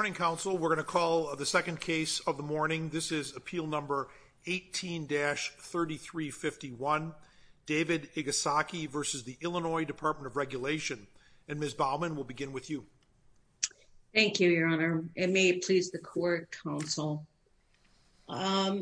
Good morning, counsel. We're going to call the second case of the morning. This is appeal number 18-3351, David Igasaki v. the Illinois Department of Regulation. And Ms. Baumann, we'll begin with you. Thank you, Your Honor. And may it please the court, counsel. I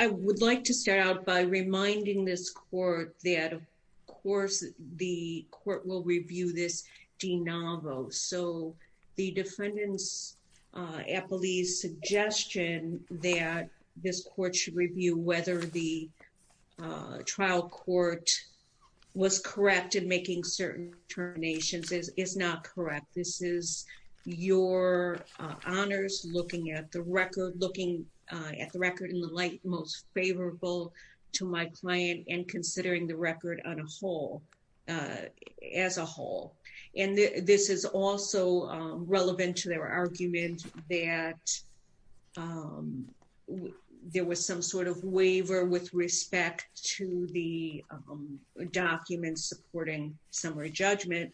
would like to start out by reminding this court that, of course, the court will review this de novo. So the defendant's appellee's suggestion that this court should review whether the trial court was correct in making certain determinations is not correct. This is your honors looking at the record, looking at the record in the light most favorable to my client and considering the record on a whole, as a whole. And this is also relevant to their argument that there was some sort of waiver with respect to the documents supporting summary judgment.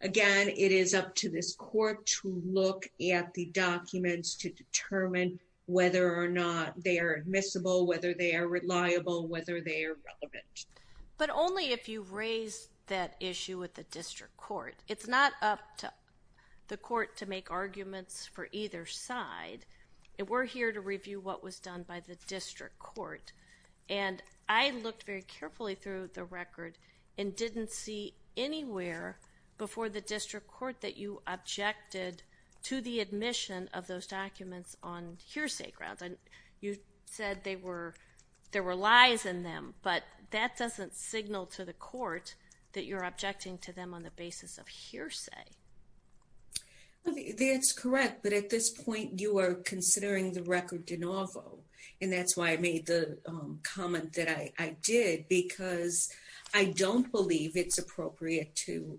Again, it is up to this court to look at the documents to determine whether or not they are admissible, whether they are reliable, whether they are relevant. But only if you raise that issue with the district court. It's not up to the court to make arguments for either side. We're here to review what was done by the district court. And I looked very carefully through the record and didn't see anywhere before the district court that you objected to the admission of those documents on hearsay grounds. You said there were lies in them, but that doesn't signal to the court that you're objecting to them on the basis of hearsay. That's correct, but at this point you are considering the record de novo. And that's why I made the comment that I did, because I don't believe it's appropriate to...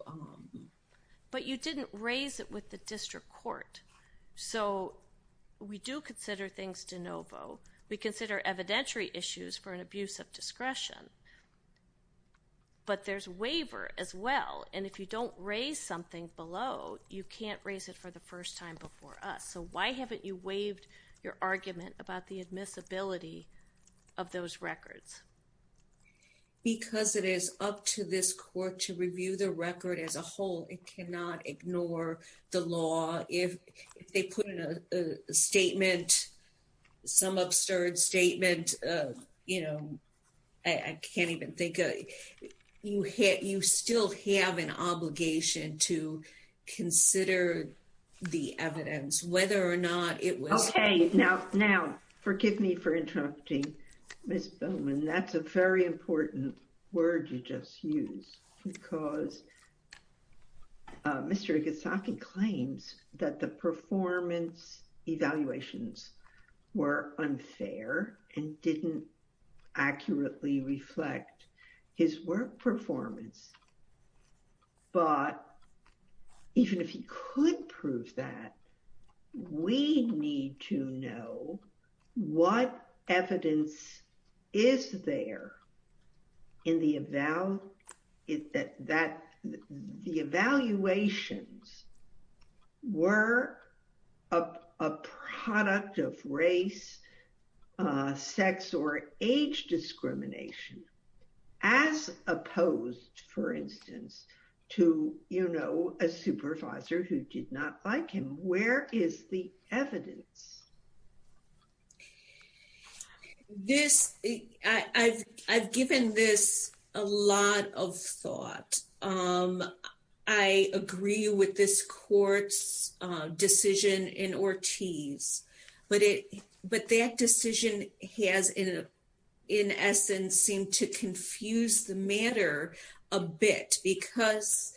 But you didn't raise it with the district court. So we do consider things de novo. We consider evidentiary issues for an abuse of discretion. But there's waiver as well. And if you don't raise something below, you can't raise it for the first time before us. So why haven't you waived your argument about the admissibility of those records? Because it is up to this court to review the record as a whole. It cannot ignore the law. If they put in a statement, some absurd statement, you know, I can't even think... You still have an obligation to consider the evidence, whether or not it was... Okay. Now, now, forgive me for interrupting, Ms. Bowman. That's a very important word you just used. Because Mr. Igusaki claims that the performance evaluations were unfair and didn't accurately reflect his work performance. But even if he could prove that, we need to know what evidence is there that the evaluations were a product of race, sex or age discrimination. As opposed, for instance, to, you know, a supervisor who did not like him. Where is the evidence? I've given this a lot of thought. I agree with this court's decision in Ortiz. But that decision has, in essence, seemed to confuse the matter a bit. Because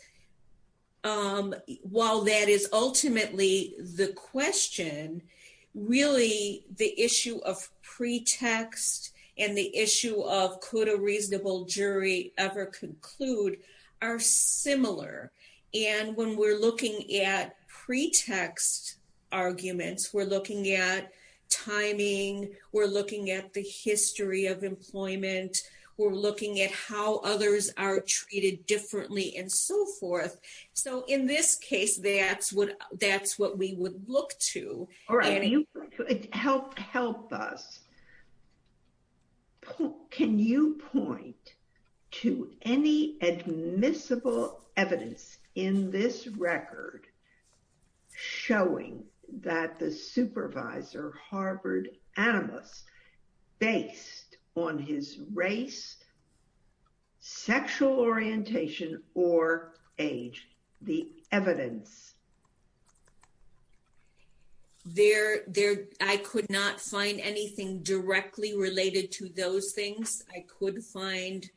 while that is ultimately the question, really the issue of pretext and the issue of could a reasonable jury ever conclude are similar. And when we're looking at pretext arguments, we're looking at timing, we're looking at the history of employment, we're looking at how others are treated differently and so forth. So in this case, that's what we would look to. All right. Help us. Can you point to any admissible evidence in this record showing that the supervisor harbored animus based on his race, sexual orientation or age? The evidence there, I could not find anything directly related to those things. I could find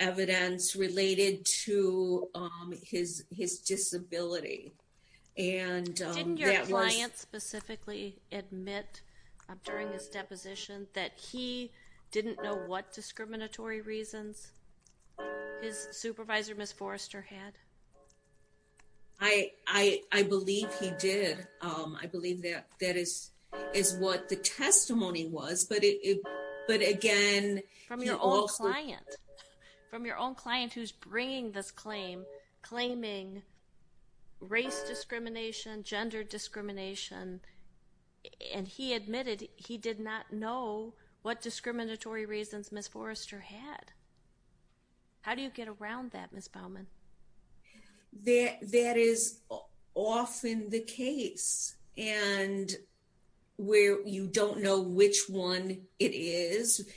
evidence related to his disability. Didn't your client specifically admit during his deposition that he didn't know what discriminatory reasons his supervisor, Ms. Forrester, had? I believe he did. I believe that is what the testimony was. But again... From your own client. From your own client who's bringing this claim, claiming race discrimination, gender discrimination, and he admitted he did not know what discriminatory reasons Ms. Forrester had. How do you get around that, Ms. Baumann? That is often the case. And where you don't know which one it is,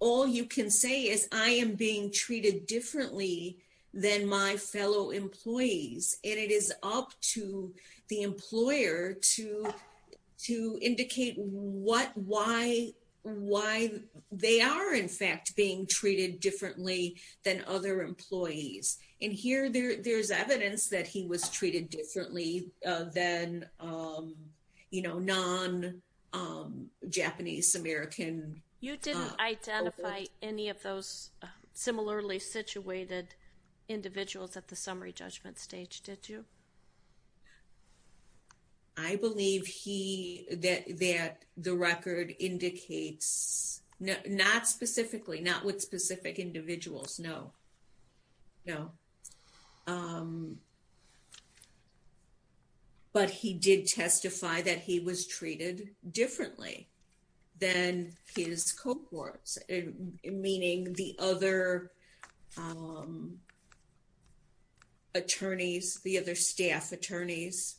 all you can say is I am being treated differently than my fellow employees. And it is up to the employer to indicate what, why, why they are in fact being treated differently than other employees. And here there's evidence that he was treated differently than, you know, non-Japanese American. You didn't identify any of those similarly situated individuals at the summary judgment stage, did you? I believe he, that the record indicates, not specifically, not with specific individuals, no. But he did testify that he was treated differently than his cohorts, meaning the other attorneys, the other staff attorneys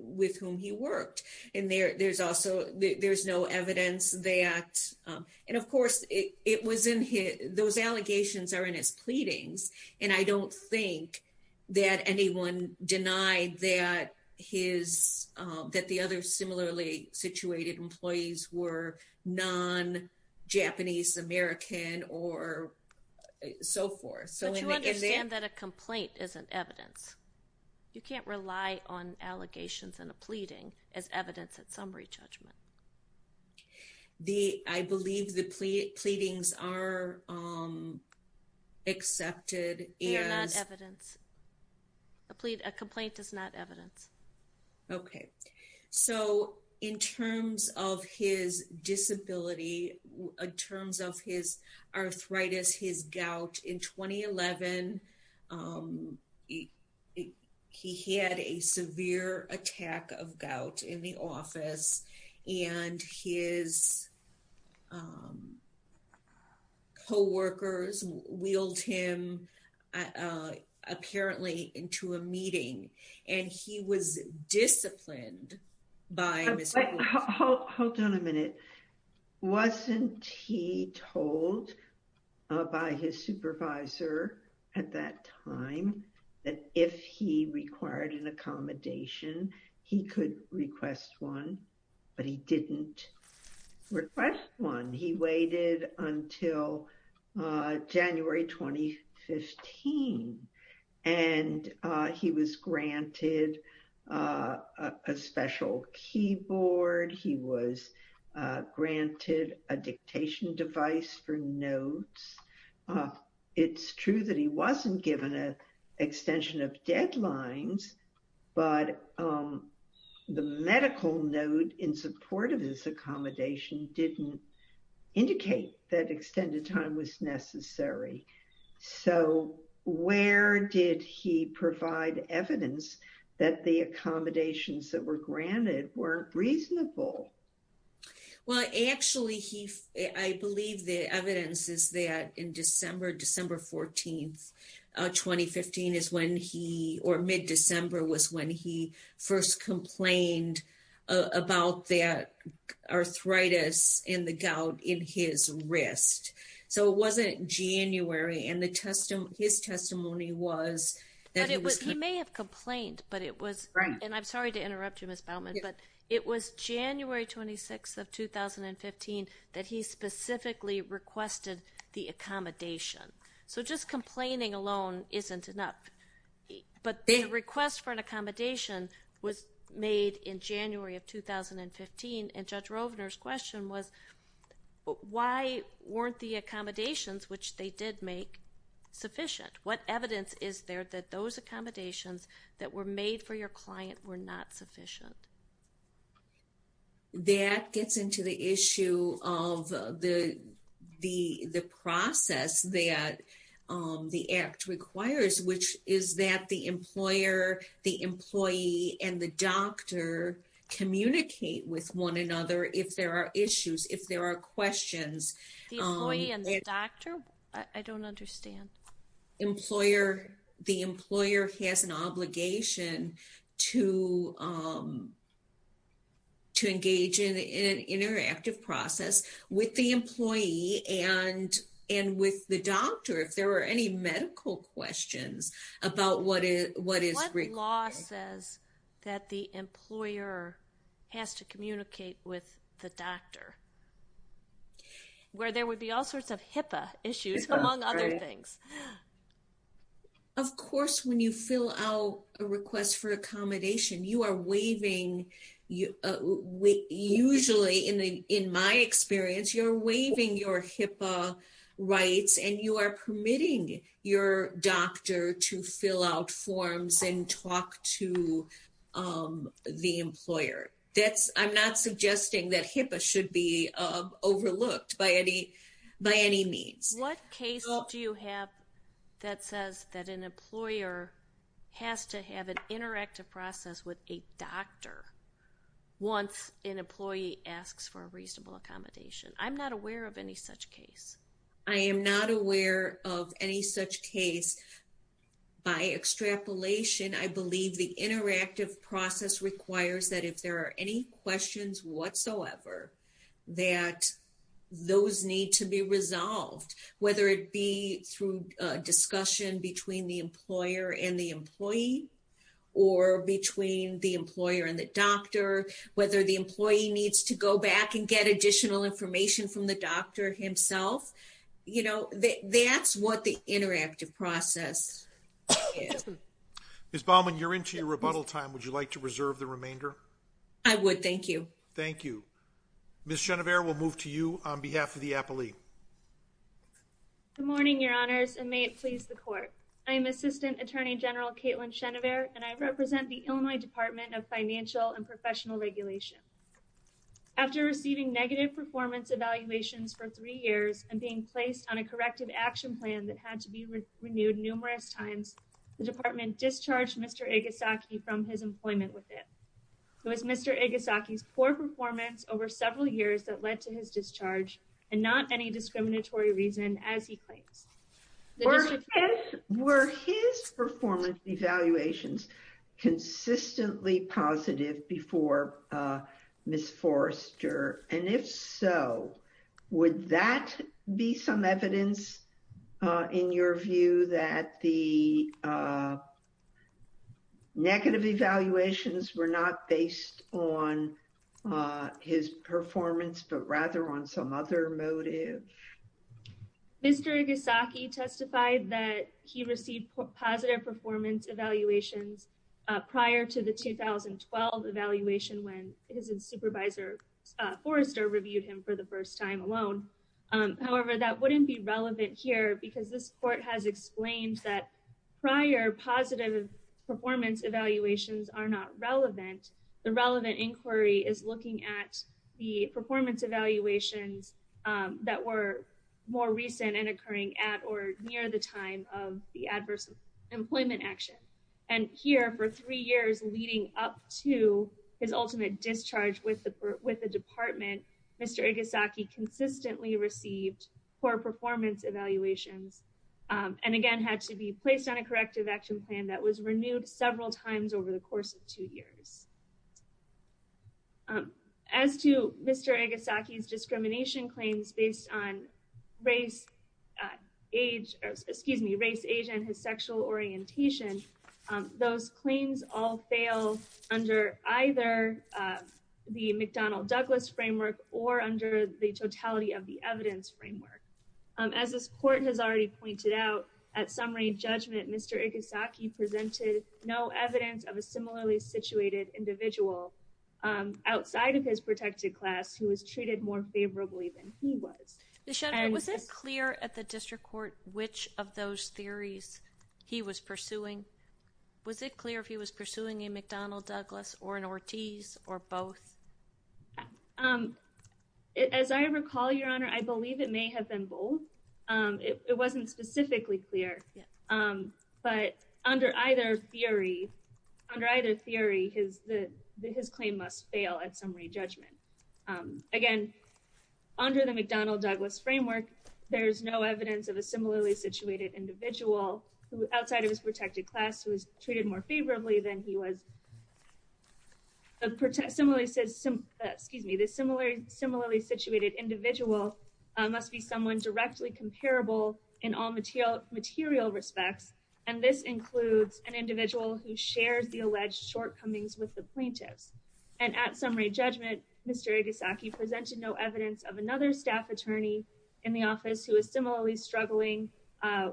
with whom he worked. And there's also, there's no evidence that, and of course it was in his, those allegations are in his pleadings. And I don't think that anyone denied that his, that the other similarly situated employees were non-Japanese American or so forth. But you understand that a complaint is an evidence. You can't rely on allegations and a pleading as evidence at summary judgment. The, I believe the pleadings are accepted as... They are not evidence. A complaint is not evidence. Okay. So in terms of his disability, in terms of his arthritis, his gout in 2011, he had a severe attack of gout in the office and his coworkers wheeled him apparently into a meeting. And he was disciplined by... Hold on a minute. Wasn't he told by his supervisor at that time that if he required an accommodation, he could request one, but he didn't request one. He waited until January, 2015, and he was granted a special keyboard. He was granted a dictation device for notes. It's true that he wasn't given an extension of deadlines, but the medical note in support of his accommodation didn't indicate that extended time was necessary. So where did he provide evidence that the accommodations that were granted weren't reasonable? Well, actually he, I believe the evidence is that in December, December 14th, 2015 is when he, or mid-December was when he first complained about that arthritis in the gout in his wrist. So it wasn't January and his testimony was... He may have complained, but it was... Right. And I'm sorry to interrupt you, Ms. Baumann, but it was January 26th of 2015 that he specifically requested the accommodation. So just complaining alone isn't enough. But the request for an accommodation was made in January of 2015, and Judge Rovner's question was why weren't the accommodations, which they did make, sufficient? What evidence is there that those accommodations that were made for your client were not sufficient? That gets into the issue of the process that the Act requires, which is that the employer, the employee, and the doctor communicate with one another if there are issues, if there are questions. The employee and the doctor? I don't understand. Employer, the employer has an obligation to engage in an interactive process with the employee and with the doctor if there are any medical questions about what is required. What law says that the employer has to communicate with the doctor? Where there would be all sorts of HIPAA issues, among other things. Of course, when you fill out a request for accommodation, you are waiving, usually in my experience, you're waiving your HIPAA rights and you are permitting your doctor to fill out forms and talk to the employer. I'm not suggesting that HIPAA should be overlooked by any means. What case do you have that says that an employer has to have an interactive process with a doctor once an employee asks for a reasonable accommodation? I'm not aware of any such case. I am not aware of any such case. By extrapolation, I believe the interactive process requires that if there are any questions whatsoever, that those need to be resolved. Whether it be through discussion between the employer and the employee or between the employer and the doctor. Whether the employee needs to go back and get additional information from the doctor himself. You know, that's what the interactive process is. Ms. Baumann, you're into your rebuttal time. Would you like to reserve the remainder? I would. Thank you. Thank you. Ms. Chenever will move to you on behalf of the appellee. Good morning, your honors, and may it please the court. I am Assistant Attorney General Caitlin Chenever and I represent the Illinois Department of Financial and Professional Regulation. After receiving negative performance evaluations for three years and being placed on a corrective action plan that had to be renewed numerous times, the department discharged Mr. Igasaki from his employment with it. It was Mr. Igasaki's poor performance over several years that led to his discharge and not any discriminatory reason as he claims. Were his performance evaluations consistently positive before Ms. Forrester? And if so, would that be some evidence in your view that the negative evaluations were not based on his performance, but rather on some other motive? Mr. Igasaki testified that he received positive performance evaluations prior to the 2012 evaluation when his supervisor Forrester reviewed him for the first time alone. However, that wouldn't be relevant here because this court has explained that prior positive performance evaluations are not relevant. The relevant inquiry is looking at the performance evaluations that were more recent and occurring at or near the time of the adverse employment action. And here for three years leading up to his ultimate discharge with the department, Mr. Igasaki consistently received poor performance evaluations and again had to be placed on a corrective action plan that was renewed several times over the course of two years. As to Mr. Igasaki's discrimination claims based on race, age, excuse me, race, age, and his sexual orientation. Those claims all fail under either the McDonnell Douglas framework or under the totality of the evidence framework. As this court has already pointed out, at summary judgment, Mr. Igasaki presented no evidence of a similarly situated individual outside of his protected class who was treated more favorably than he was. Was it clear at the district court which of those theories he was pursuing? Was it clear if he was pursuing a McDonnell Douglas or an Ortiz or both? As I recall, Your Honor, I believe it may have been both. It wasn't specifically clear. But under either theory, under either theory, his claim must fail at summary judgment. Again, under the McDonnell Douglas framework, there's no evidence of a similarly situated individual outside of his protected class who was treated more favorably than he was. The similarly situated individual must be someone directly comparable in all material respects, and this includes an individual who shares the alleged shortcomings with the plaintiffs. And at summary judgment, Mr. Igasaki presented no evidence of another staff attorney in the office who was similarly struggling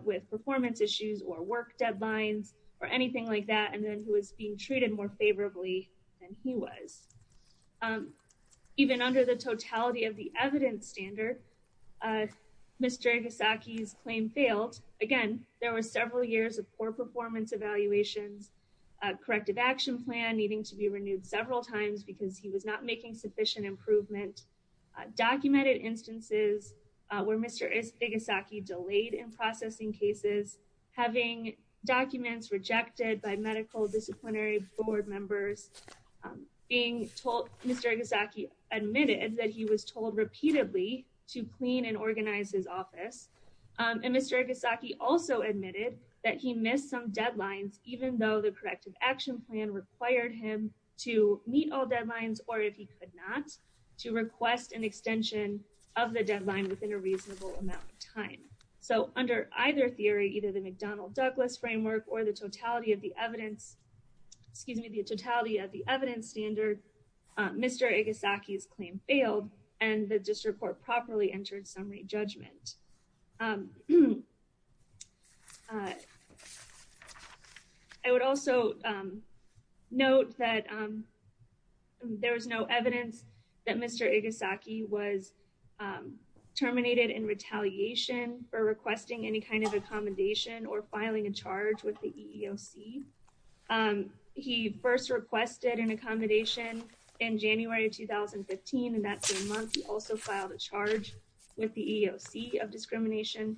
with performance issues or work deadlines or anything like that, and then who was being treated more favorably than he was. Even under the totality of the evidence standard, Mr. Igasaki's claim failed. Again, there were several years of poor performance evaluations, a corrective action plan needing to be renewed several times because he was not making sufficient improvement, documented instances where Mr. Igasaki delayed in processing cases, having documents rejected by medical disciplinary board members, being told, Mr. Igasaki admitted that he was told repeatedly to clean and organize his office. And Mr. Igasaki also admitted that he missed some deadlines, even though the corrective action plan required him to meet all deadlines, or if he could not, to request an extension of the deadline within a reasonable amount of time. So under either theory, either the McDonnell-Douglas framework or the totality of the evidence, excuse me, the totality of the evidence standard, Mr. Igasaki's claim failed and the district court properly entered summary judgment. I would also note that there was no evidence that Mr. Igasaki was terminated in retaliation for requesting any kind of accommodation or filing a charge with the EEOC. He first requested an accommodation in January of 2015, and that same month, he also filed a charge with the EEOC of discrimination.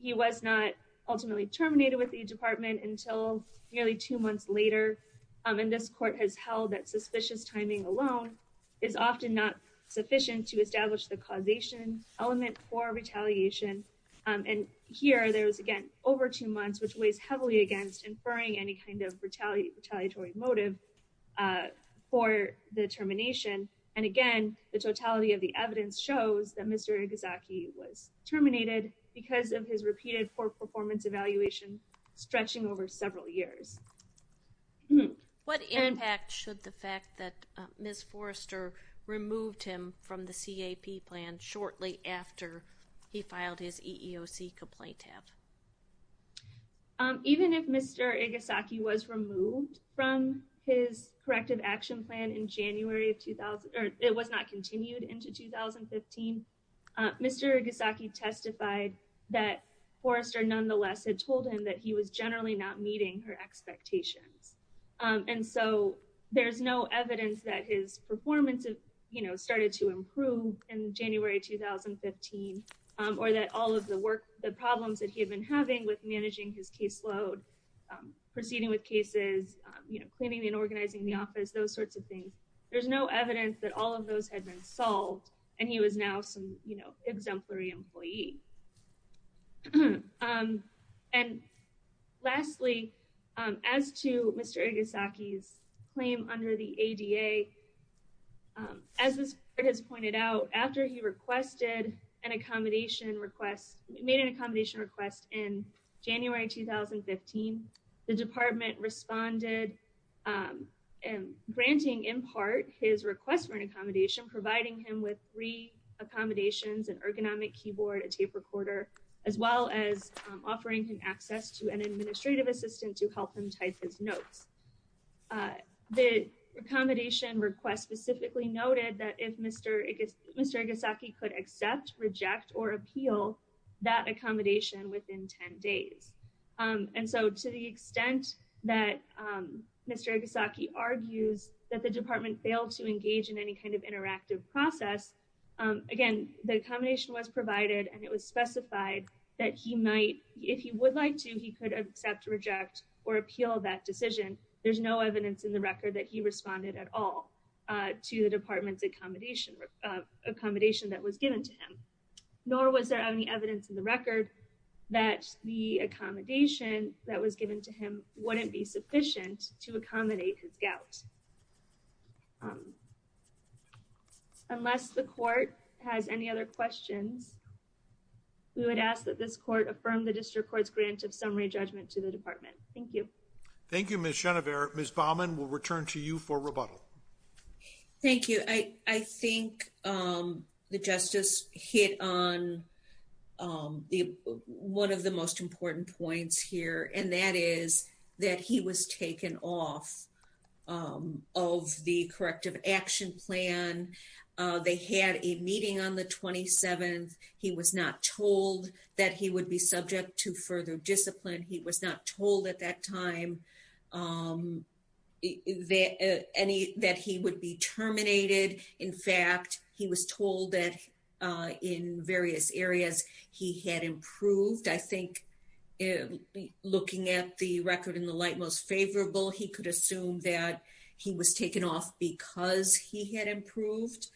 He was not ultimately terminated with the department until nearly two months later. And this court has held that suspicious timing alone is often not sufficient to establish the causation element for retaliation. And here, there was, again, over two months, which weighs heavily against inferring any kind of retaliatory motive for the termination. And again, the totality of the evidence shows that Mr. Igasaki was terminated because of his repeated poor performance evaluation stretching over several years. What impact should the fact that Ms. Forrester removed him from the CAP plan shortly after he filed his EEOC complaint have? Even if Mr. Igasaki was removed from his corrective action plan in January of 2000, or it was not continued into 2015, Mr. Igasaki testified that Forrester nonetheless had told him that he was generally not meeting her expectations. And so there's no evidence that his performance started to improve in January 2015, or that all of the problems that he had been having with managing his caseload, proceeding with cases, cleaning and organizing the office, those sorts of things. There's no evidence that all of those had been solved, and he was now some exemplary employee. And lastly, as to Mr. Igasaki's claim under the ADA, as was pointed out, after he requested an accommodation request, made an accommodation request in January 2015, the department responded, granting in part his request for an accommodation, providing him with three accommodations, an ergonomic keyboard, a tape recorder, as well as offering him access to an administrative assistant to help him type his notes. The accommodation request specifically noted that if Mr. Igasaki could accept, reject, or appeal that accommodation within 10 days. And so to the extent that Mr. Igasaki argues that the department failed to engage in any kind of interactive process, again, the accommodation was provided and it was specified that he might, if he would like to, he could accept, reject, or appeal that decision. There's no evidence in the record that he responded at all to the department's accommodation that was given to him, nor was there any evidence in the record that the accommodation that was given to him wouldn't be sufficient to accommodate his gout. Unless the court has any other questions, we would ask that this court affirm the district court's grant of summary judgment to the department. Thank you. Thank you, Ms. Chenevert. Ms. Baumann, we'll return to you for rebuttal. Thank you. I think the justice hit on one of the most important points here, and that is that he was taken off of the corrective action plan. They had a meeting on the 27th. He was not told that he would be subject to further discipline. He was not told at that time that he would be terminated. In fact, he was told that in various areas he had improved. I think looking at the record in the light most favorable, he could assume that he was taken off because he had improved.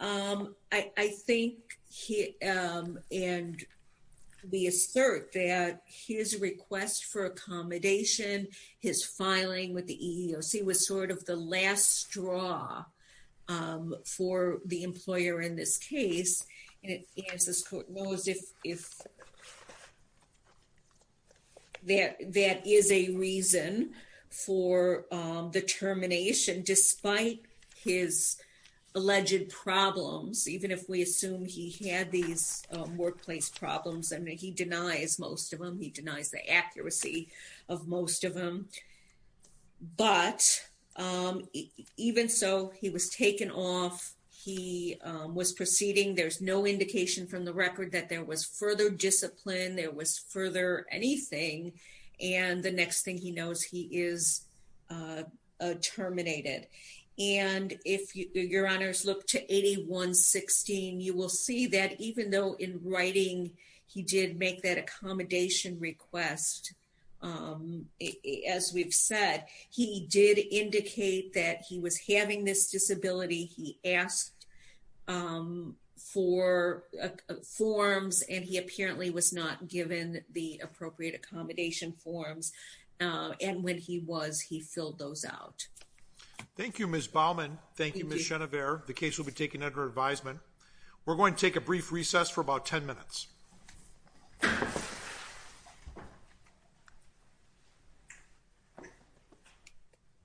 I think he and we assert that his request for accommodation, his filing with the EEOC was sort of the last straw for the employer in this case. And as this court knows, if that is a reason for the termination, despite his alleged problems, even if we assume he had these workplace problems, and he denies most of them, he denies the accuracy of most of them. But even so, he was taken off. He was proceeding. There's no indication from the record that there was further discipline, there was further anything. And the next thing he knows, he is terminated. And if your honors look to 8116, you will see that even though in writing he did make that accommodation request, as we've said, he did indicate that he was having this disability. He asked for forms, and he apparently was not given the appropriate accommodation forms. And when he was, he filled those out. Thank you, Ms. Baumann. Thank you, Ms. Chenevert. The case will be taken under advisement. We're going to take a brief recess for about 10 minutes.